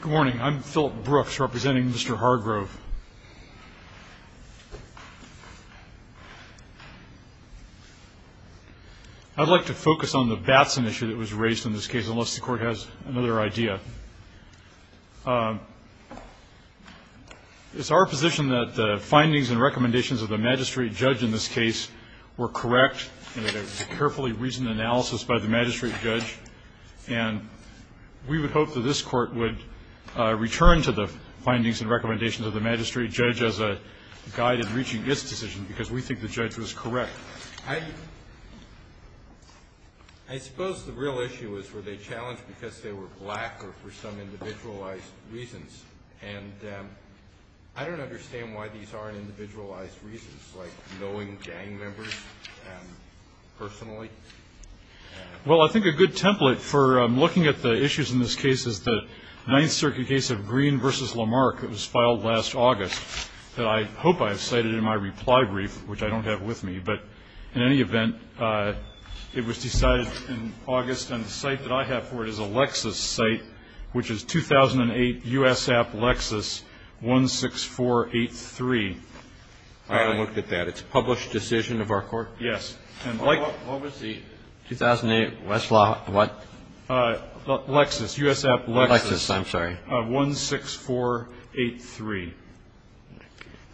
Good morning, I'm Philip Brooks representing Mr. Hargrove. I'd like to focus on the Batson issue that was raised in this case, unless the court has another idea. It's our position that the findings and recommendations of the magistrate judge in this case were correct, and that there was a carefully reasoned analysis by the magistrate judge. And we would hope that this Court would return to the findings and recommendations of the magistrate judge as a guide in reaching its decision, because we think the judge was correct. I suppose the real issue is were they challenged because they were black or for some individualized reasons? And I don't understand why these aren't individualized reasons, like knowing gang members personally. Well, I think a good template for looking at the issues in this case is the Ninth Circuit case of Green v. Lamarck. It was filed last August that I hope I have cited in my reply brief, which I don't have with me. But in any event, it was decided in August. And the site that I have for it is a Lexis site, which is 2008 U.S. App Lexis 16483. I haven't looked at that. It's a published decision of our court? Yes. What was the 2008 West Law what? Lexis. U.S. App Lexis. Lexis, I'm sorry. 16483.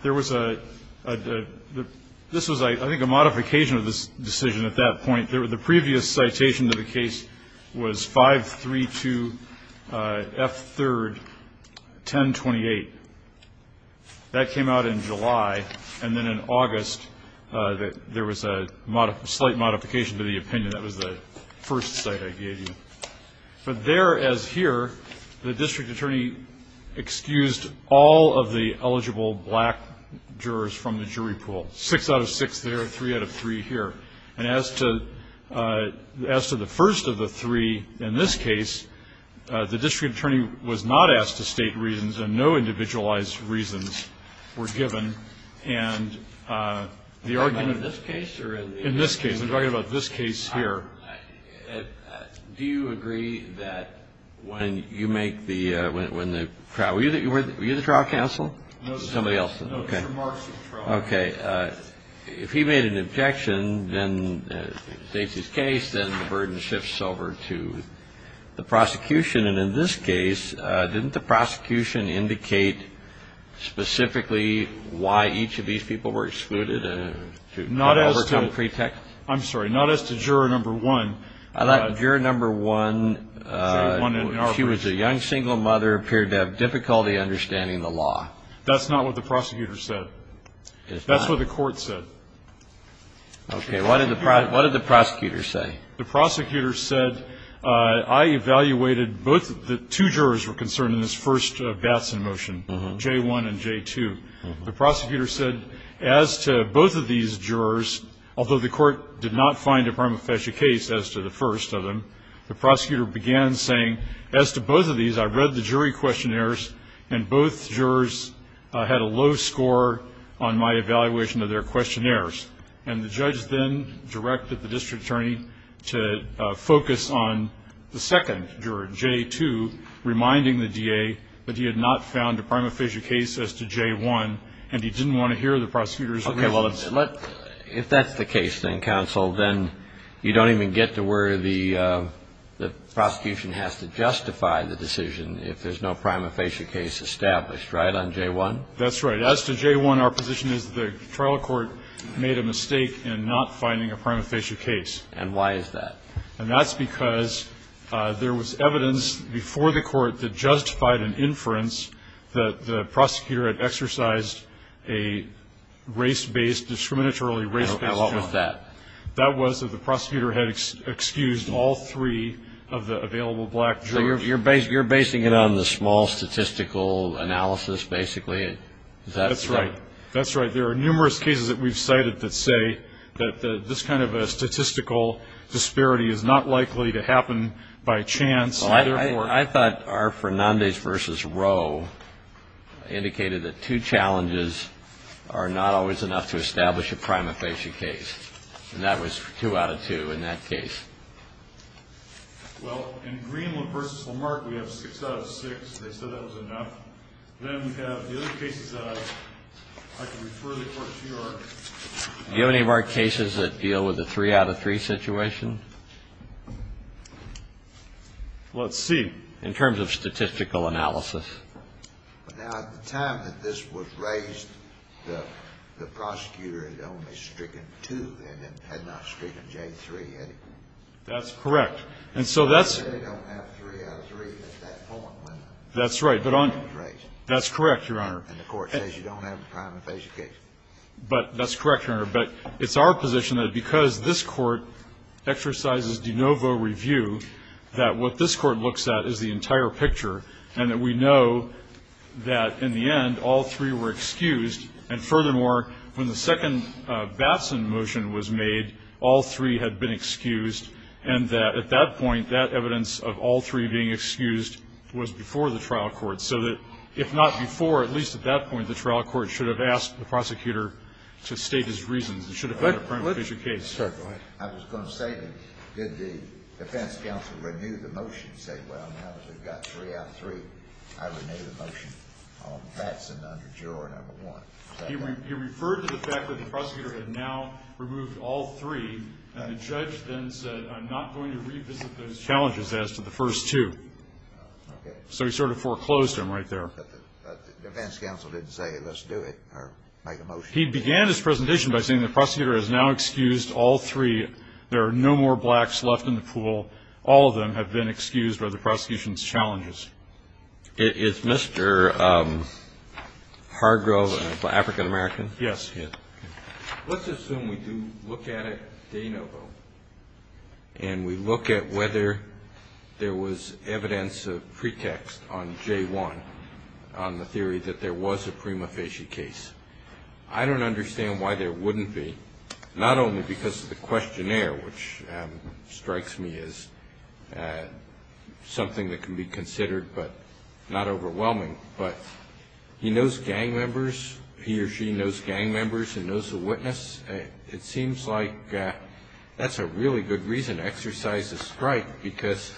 There was a – this was, I think, a modification of this decision at that point. The previous citation to the case was 532 F3 1028. That came out in July, and then in August there was a slight modification to the opinion. That was the first site I gave you. But there as here, the district attorney excused all of the eligible black jurors from the jury pool. Six out of six there, three out of three here. And as to the first of the three, in this case, the district attorney was not asked to state reasons and no individualized reasons were given. And the argument – In this case? In this case. I'm talking about this case here. Do you agree that when you make the – were you the trial counsel? No. Somebody else. Okay. Okay. If he made an objection, then in Stacy's case, then the burden shifts over to the prosecution. And in this case, didn't the prosecution indicate specifically why each of these people were excluded to overcome pretext? I'm sorry. Not as to juror number one. Juror number one, she was a young single mother, appeared to have difficulty understanding the law. That's not what the prosecutor said. That's what the court said. Okay. What did the prosecutor say? The prosecutor said, I evaluated both – the two jurors were concerned in this first Batson motion, J-1 and J-2. The prosecutor said, as to both of these jurors, although the court did not find a prima facie case as to the first of them, the prosecutor began saying, as to both of these, I read the jury questionnaires, and both jurors had a low score on my evaluation of their questionnaires. And the judge then directed the district attorney to focus on the second juror, J-2, reminding the DA that he had not found a prima facie case as to J-1, and he didn't want to hear the prosecutor's opinion. If that's the case, then, counsel, then you don't even get to where the prosecution has to justify the decision if there's no prima facie case established, right, on J-1? That's right. As to J-1, our position is the trial court made a mistake in not finding a prima facie case. And why is that? And that's because there was evidence before the court that justified an inference that the prosecutor had exercised a race-based, discriminatorily race-based – And what was that? That was that the prosecutor had excused all three of the available black jurors. So you're basing it on the small statistical analysis, basically? That's right. That's right. There are numerous cases that we've cited that say that this kind of a statistical disparity is not likely to happen by chance. Well, I thought R. Fernandez v. Roe indicated that two challenges are not always enough to establish a prima facie case. And that was two out of two in that case. Well, in Greenland v. Lamarck, we have six out of six. They said that was enough. Then we have the other cases that I could refer the court to are – Do you have any of our cases that deal with a three-out-of-three situation? Let's see. In terms of statistical analysis. Now, at the time that this was raised, the prosecutor had only stricken two. They had not stricken J-3 yet. That's correct. And so that's – They don't have three-out-of-three at that point when it was raised. That's correct, Your Honor. And the court says you don't have a prima facie case. But that's correct, Your Honor. But it's our position that because this Court exercises de novo review, that what this Court looks at is the entire picture, and that we know that in the end all three were excused. And furthermore, when the second Batson motion was made, all three had been excused, and that at that point, that evidence of all three being excused was before the trial court. So that if not before, at least at that point, the trial court should have asked the prosecutor to state his reasons. It should have been a prima facie case. I was going to say, did the defense counsel renew the motion and say, well, now that we've got three-out-of-three, I renew the motion on Batson under Juror No. 1? He referred to the fact that the prosecutor had now removed all three, and the judge then said, I'm not going to revisit those challenges as to the first two. Okay. So he sort of foreclosed them right there. But the defense counsel didn't say, let's do it, or make a motion. He began his presentation by saying the prosecutor has now excused all three. There are no more blacks left in the pool. All of them have been excused by the prosecution's challenges. Is Mr. Hargrove an African-American? Yes. Let's assume we do look at it de novo, and we look at whether there was evidence of pretext on J-1 on the theory that there was a prima facie case. I don't understand why there wouldn't be, not only because of the questionnaire, which strikes me as something that can be considered but not overwhelming, but he knows gang members. He or she knows gang members and knows the witness. It seems like that's a really good reason to exercise a strike, because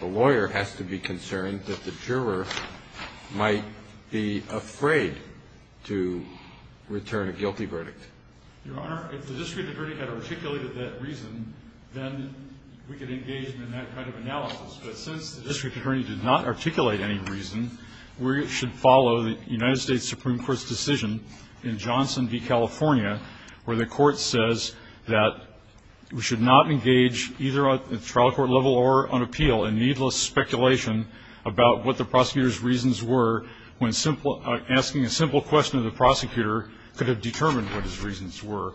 the lawyer has to be concerned that the juror might be afraid to return a guilty verdict. Your Honor, if the district attorney had articulated that reason, then we could engage in that kind of analysis. But since the district attorney did not articulate any reason, we should follow the United States Supreme Court's decision in Johnson v. California, where the court says that we should not engage either at trial court level or on appeal in needless speculation about what the prosecutor's reasons were when asking a simple question of the prosecutor could have determined what his reasons were.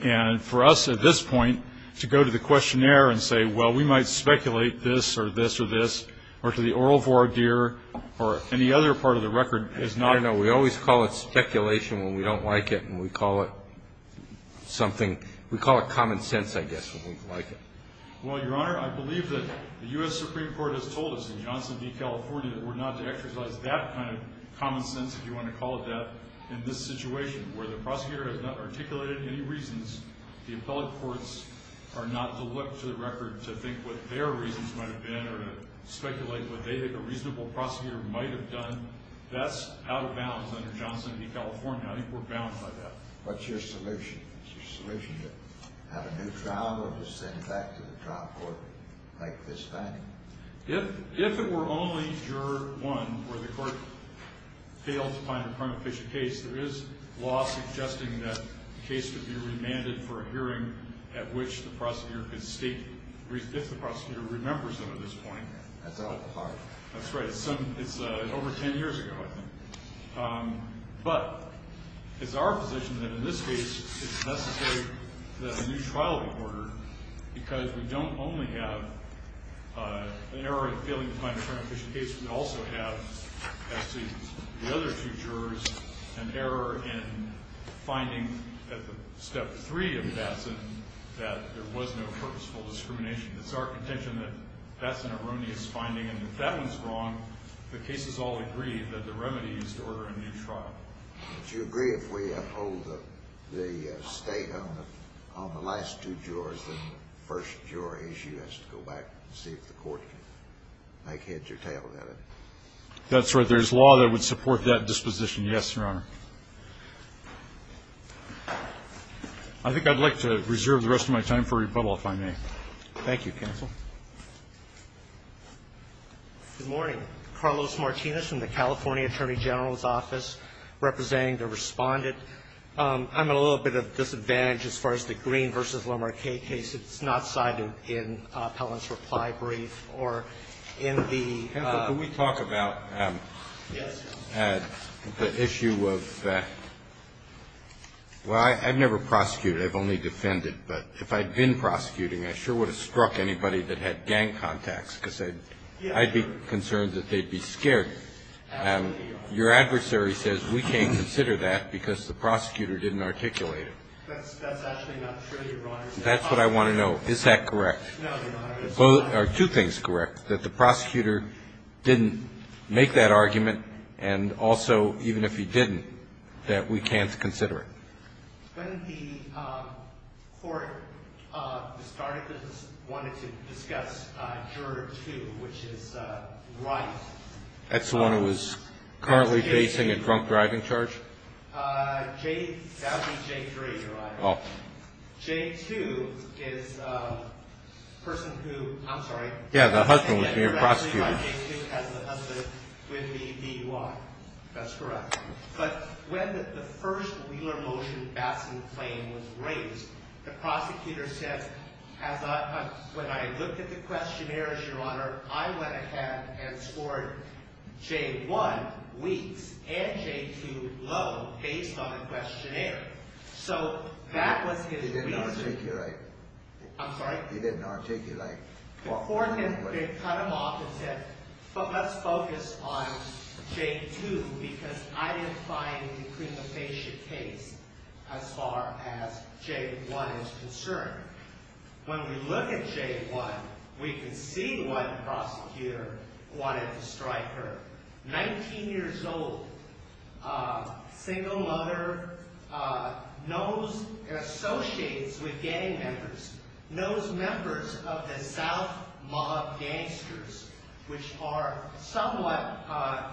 And for us at this point to go to the questionnaire and say, well, we might speculate this or this or this, or to the oral voir dire, or any other part of the record, is not a good idea. No, we always call it speculation when we don't like it, and we call it something, we call it common sense, I guess, when we like it. Well, Your Honor, I believe that the U.S. Supreme Court has told us in Johnson v. California that we're not to exercise that kind of common sense, if you want to call it that, in this situation, where the prosecutor has not articulated any reasons. The appellate courts are not to look to the record to think what their reasons might have been or to speculate what they think a reasonable prosecutor might have done. That's out of bounds under Johnson v. California. I think we're bound by that. What's your solution? Is your solution to have a new trial or to send back to the trial court like this time? If it were only Juror 1, where the court failed to find a crime-official case, there is law suggesting that the case should be remanded for a hearing at which the prosecutor can state if the prosecutor remembers them at this point. That's out of the question. That's right. It's over ten years ago, I think. But it's our position that in this case it's necessary that a new trial be ordered because we don't only have an error in failing to find a crime-official case, we also have, as to the other two jurors, an error in finding at the step three of Batson that there was no purposeful discrimination. It's our contention that Batson erroneous finding, and if that one's wrong, the cases all agree that the remedy is to order a new trial. Do you agree if we uphold the state on the last two jurors, and the first juror, as you, has to go back and see if the court can make heads or tails of it? That's right. There's law that would support that disposition, yes, Your Honor. I think I'd like to reserve the rest of my time for rebuttal, if I may. Thank you, counsel. Good morning. Carlos Martinez from the California Attorney General's Office, representing the Respondent. I'm at a little bit of a disadvantage as far as the Green v. Lamarcae case. It's not cited in Pellin's reply brief or in the ---- Counsel, can we talk about the issue of the ---- well, I've never prosecuted. I've only defended. But if I'd been prosecuting, I sure would have struck anybody that had gang contacts because I'd be concerned that they'd be scared. Your adversary says we can't consider that because the prosecutor didn't articulate it. That's actually not true, Your Honor. That's what I want to know. Is that correct? No, Your Honor. Are two things correct, that the prosecutor didn't make that argument, and also even if he didn't, that we can't consider it? When the court started this, it wanted to discuss juror two, which is right. That's the one who was currently facing a drunk driving charge? That would be J3, Your Honor. J2 is a person who ---- I'm sorry. Yeah, the husband was being prosecuted. J2 has the husband with the DUI. That's correct. But when the first wheeler motion basking claim was raised, the prosecutor said, when I looked at the questionnaires, Your Honor, I went ahead and scored J1, weeks, and J2, low, based on the questionnaire. So that was his reasoning. He didn't articulate. I'm sorry? He didn't articulate. The court had cut him off and said, let's focus on J2 because I didn't find it to be a patient case as far as J1 is concerned. When we look at J1, we can see what prosecutor wanted to strike her. Nineteen years old, single mother, knows, associates with gang members, knows members of the South Mob gangsters, which are somewhat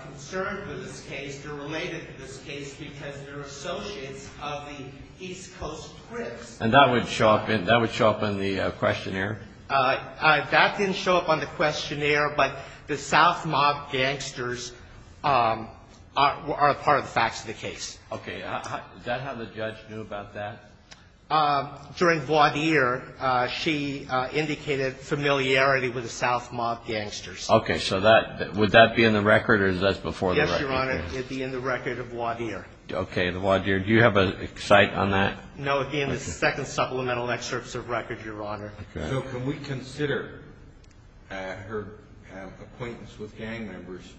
concerned with this case. They're related to this case because they're associates of the East Coast Crips. And that would show up in the questionnaire? That didn't show up on the questionnaire, but the South Mob gangsters are a part of the facts of the case. Okay. Is that how the judge knew about that? During voir dire, she indicated familiarity with the South Mob gangsters. Okay. So would that be in the record or is that before the record? Yes, Your Honor. It would be in the record of voir dire. Okay. The voir dire. Do you have a cite on that? No, it would be in the second supplemental excerpts of record, Your Honor. Okay. So can we consider her acquaintance with gang members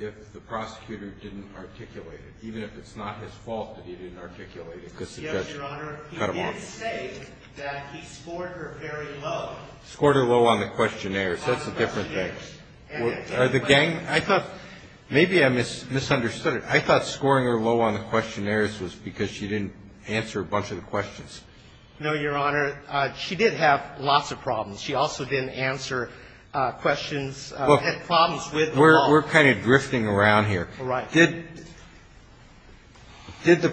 if the prosecutor didn't articulate it, even if it's not his fault that he didn't articulate it? Yes, Your Honor. Cut him off. He did say that he scored her very low. Scored her low on the questionnaires. That's a different thing. Are the gang – I thought – maybe I misunderstood it. I thought scoring her low on the questionnaires was because she didn't answer a bunch of the questions. No, Your Honor. She did have lots of problems. She also didn't answer questions – had problems with the law. We're kind of drifting around here. All right. Did the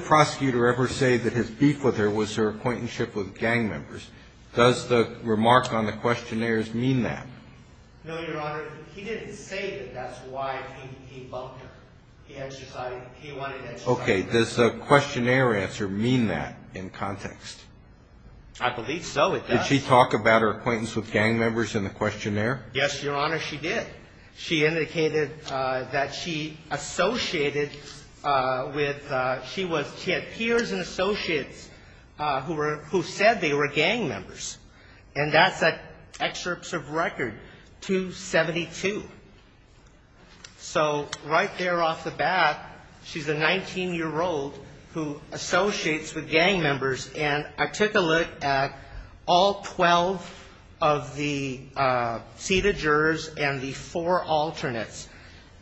prosecutor ever say that his beef with her was her acquaintance with gang members? Does the remark on the questionnaires mean that? No, Your Honor. He didn't say that that's why he bumped her. He wanted – Okay. Does the questionnaire answer mean that in context? I believe so. It does. Did she talk about her acquaintance with gang members in the questionnaire? Yes, Your Honor, she did. She indicated that she associated with – she had peers and associates who said they were gang members. And that's an excerpt of record 272. So right there off the bat, she's a 19-year-old who associates with gang members. And I took a look at all 12 of the seated jurors and the four alternates.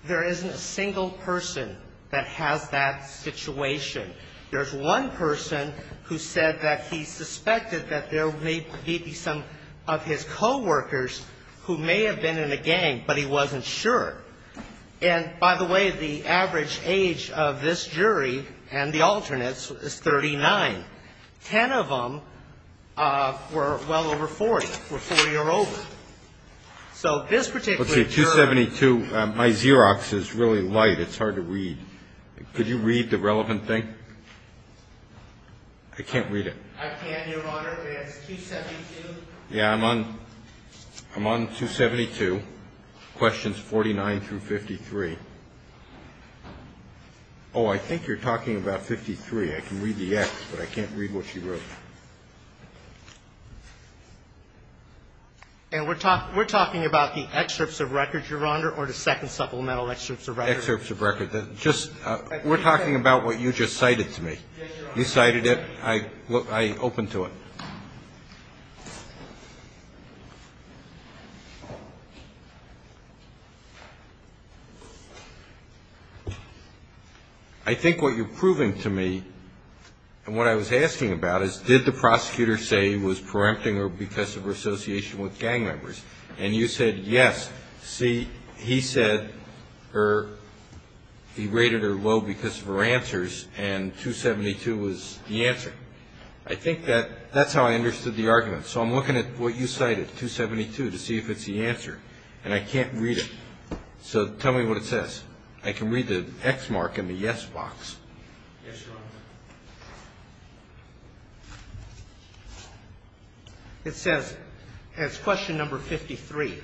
There isn't a single person that has that situation. There's one person who said that he suspected that there may be some of his coworkers who may have been in a gang, but he wasn't sure. And, by the way, the average age of this jury and the alternates is 39. Ten of them were well over 40, were 4-year-olds. So this particular juror – Let's see, 272. It's hard to read. Could you read the relevant thing? I can't read it. I can, Your Honor. It's 272. Yeah, I'm on 272, questions 49 through 53. Oh, I think you're talking about 53. I can read the X, but I can't read what she wrote. And we're talking about the excerpts of records, Your Honor, or the second supplemental excerpts of records? Excerpts of records. We're talking about what you just cited to me. Yes, Your Honor. You cited it. I opened to it. I think what you're proving to me and what I was asking about is, did the prosecutor say he was preempting her because of her association with gang members? And you said, yes. See, he said he rated her low because of her answers, and 272 was the answer. I think that's how I understood the argument. So I'm looking at what you cited, 272, to see if it's the answer, and I can't read it. So tell me what it says. I can read the X mark in the yes box. Yes, Your Honor. It says, it's question number 53.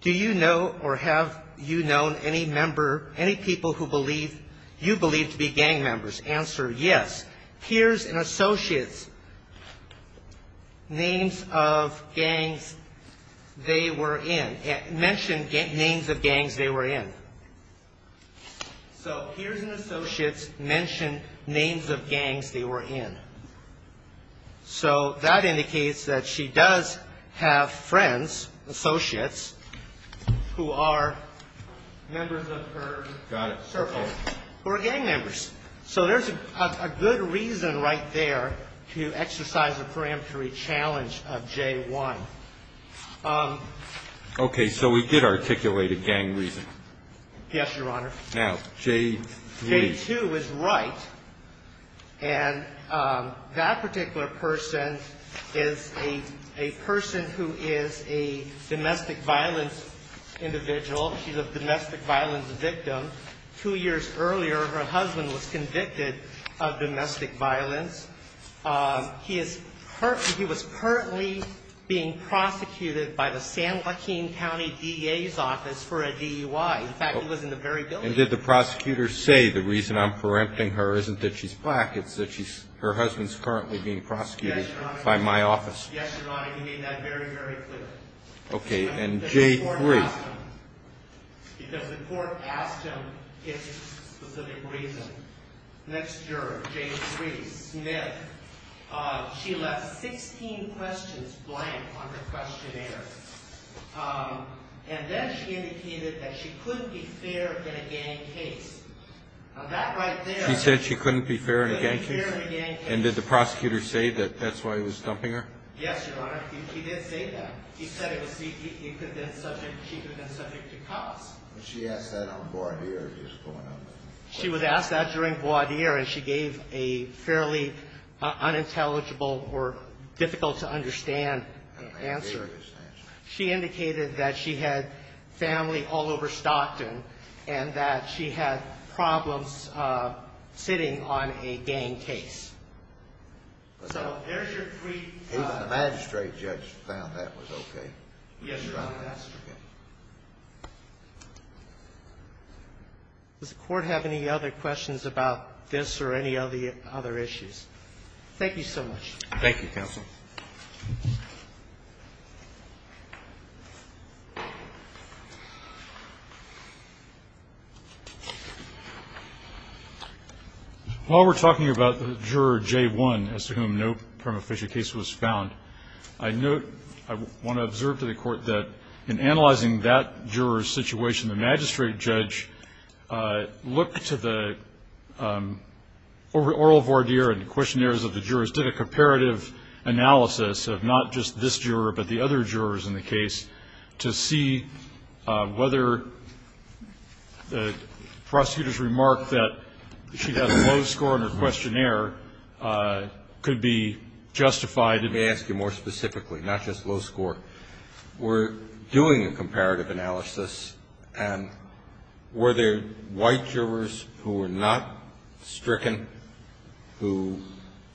Do you know or have you known any member, any people who believe, you believe to be gang members? Answer, yes. Peers and associates names of gangs they were in. Mention names of gangs they were in. So peers and associates mention names of gangs they were in. So that indicates that she does have friends, associates, who are members of her circle. Got it. Who are gang members. So there's a good reason right there to exercise the peremptory challenge of J1. Okay. So we did articulate a gang reason. Yes, Your Honor. Now, J2. J2 is right, and that particular person is a person who is a domestic violence individual. She's a domestic violence victim. Two years earlier, her husband was convicted of domestic violence. He was currently being prosecuted by the San Joaquin County DA's office for a DUI. In fact, he was in the very building. And did the prosecutor say the reason I'm perempting her isn't that she's black, it's that her husband's currently being prosecuted by my office? Yes, Your Honor. He made that very, very clear. Okay. And J3. Because the court asked him if it's a specific reason. Next juror, J3, Smith. She left 16 questions blank on her questionnaire. And then she indicated that she couldn't be fair in a gang case. Now, that right there. She said she couldn't be fair in a gang case? She couldn't be fair in a gang case. And did the prosecutor say that that's why he was thumping her? Yes, Your Honor. He did say that. He said it was he could have been subject, she could have been subject to cops. She asked that on voir dire if he was going under. She was asked that during voir dire and she gave a fairly unintelligible or difficult to understand answer. She indicated that she had family all over Stockton and that she had problems sitting on a gang case. So, there's your three. Even the magistrate judge found that was okay. Yes, Your Honor. Does the court have any other questions about this or any of the other issues? Thank you so much. Thank you, counsel. While we're talking about the juror J1, as to whom no prima facie case was found, I want to observe to the court that in analyzing that juror's situation, the magistrate judge looked to the oral voir dire and the questionnaires of the jurors, did a comparative analysis of not just this juror but the other jurors in the case, to see whether the prosecutor's remark that she had a low score in her questionnaire could be justified. Let me ask you more specifically, not just low score. Were doing a comparative analysis and were there white jurors who were not stricken, who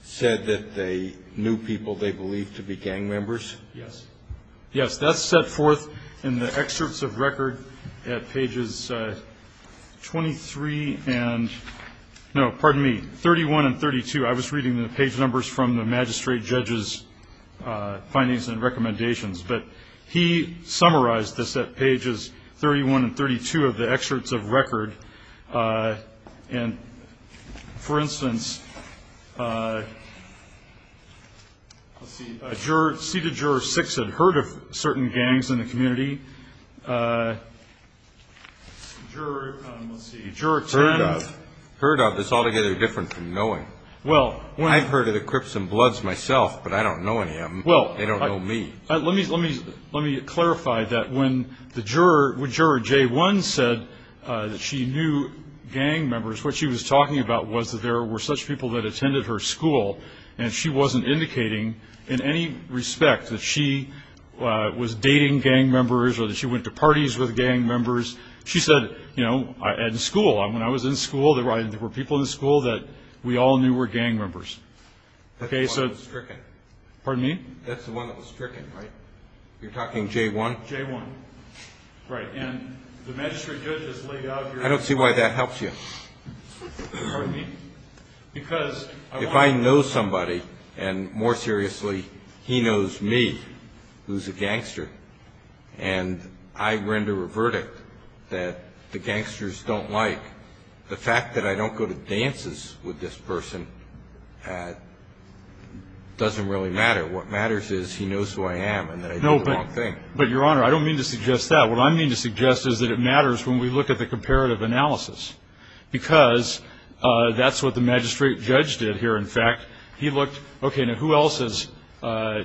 said that they knew people they believed to be gang members? Yes. Yes, that's set forth in the excerpts of record at pages 23 and, no, pardon me, 31 and 32. I was reading the page numbers from the magistrate judge's findings and recommendations. But he summarized this at pages 31 and 32 of the excerpts of record. And, for instance, let's see, seated juror 6 had heard of certain gangs in the community. Juror 10. Heard of. But it's altogether different from knowing. Well. I've heard of the Crips and Bloods myself, but I don't know any of them. They don't know me. Well, let me clarify that when the juror, when Juror J1 said that she knew gang members, what she was talking about was that there were such people that attended her school and she wasn't indicating in any respect that she was dating gang members or that she went to parties with gang members. She said, you know, at school. And when I was in school, there were people in school that we all knew were gang members. That's the one that was stricken. Pardon me? That's the one that was stricken, right? You're talking J1? J1. Right. And the magistrate judge has laid out here. I don't see why that helps you. Pardon me? Because I want to. If I know somebody, and more seriously, he knows me, who's a gangster, and I render a verdict that the gangsters don't like, the fact that I don't go to dances with this person doesn't really matter. What matters is he knows who I am and that I did the wrong thing. But, Your Honor, I don't mean to suggest that. What I mean to suggest is that it matters when we look at the comparative analysis, because that's what the magistrate judge did here. In fact, he looked. Okay, now who else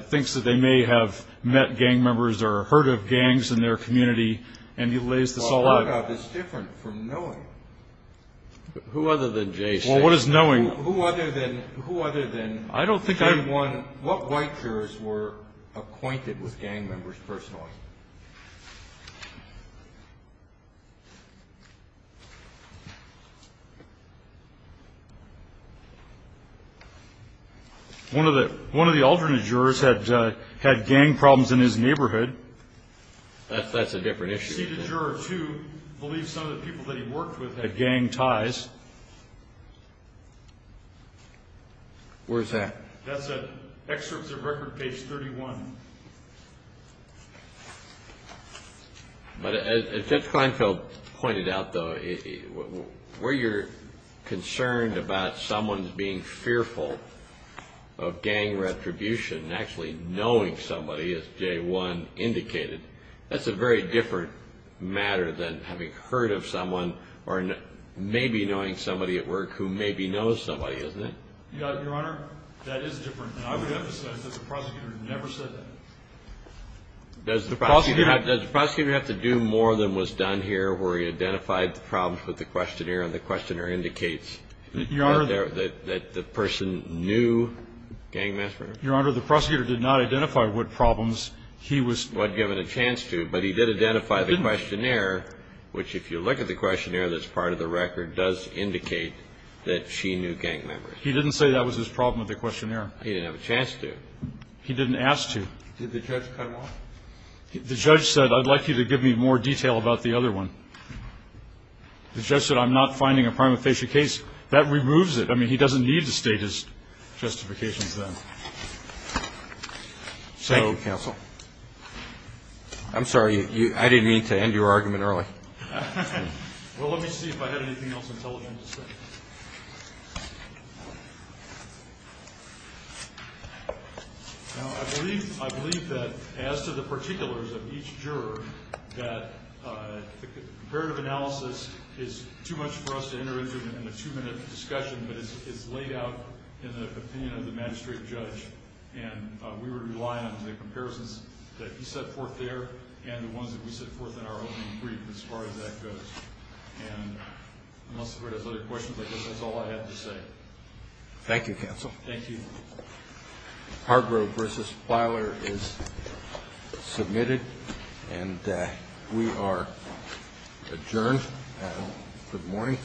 thinks that they may have met gang members or heard of gangs in their community? And he lays this all out. It's different from knowing. Who other than J6? Well, what is knowing? Who other than J1? What white jurors were acquainted with gang members personally? One of the alternate jurors had gang problems in his neighborhood. That's a different issue. Seated juror 2 believes some of the people that he worked with had gang ties. Where's that? That's at excerpts of record page 31. But as Judge Kleinfeld pointed out, though, where you're concerned about someone being fearful of gang retribution and actually knowing somebody, as J1 indicated, that's a very different matter than having heard of someone or maybe knowing somebody at work who maybe knows somebody, isn't it? Your Honor, that is different. And I would emphasize that the prosecutor never said that. Does the prosecutor have to do more than was done here where he identified the problems with the questionnaire and the questionnaire indicates that the person knew gang members? Your Honor, the prosecutor did not identify what problems he was given a chance to, but he did identify the questionnaire, which if you look at the questionnaire that's part of the record, does indicate that she knew gang members. He didn't say that was his problem with the questionnaire. He didn't have a chance to. He didn't ask to. Did the judge cut him off? The judge said, I'd like you to give me more detail about the other one. The judge said, I'm not finding a prima facie case. That removes it. I mean, he doesn't need to state his justifications then. Thank you, counsel. I'm sorry. I didn't mean to end your argument early. Well, let me see if I had anything else intelligent to say. I believe that as to the particulars of each juror, that comparative analysis is too much for us to enter into in a two-minute discussion, but it's laid out in the opinion of the magistrate judge, and we would rely on the comparisons that he set forth there and the ones that we have as far as that goes. And unless the court has other questions, I guess that's all I have to say. Thank you, counsel. Thank you. Hargrove versus Filer is submitted, and we are adjourned. Good morning.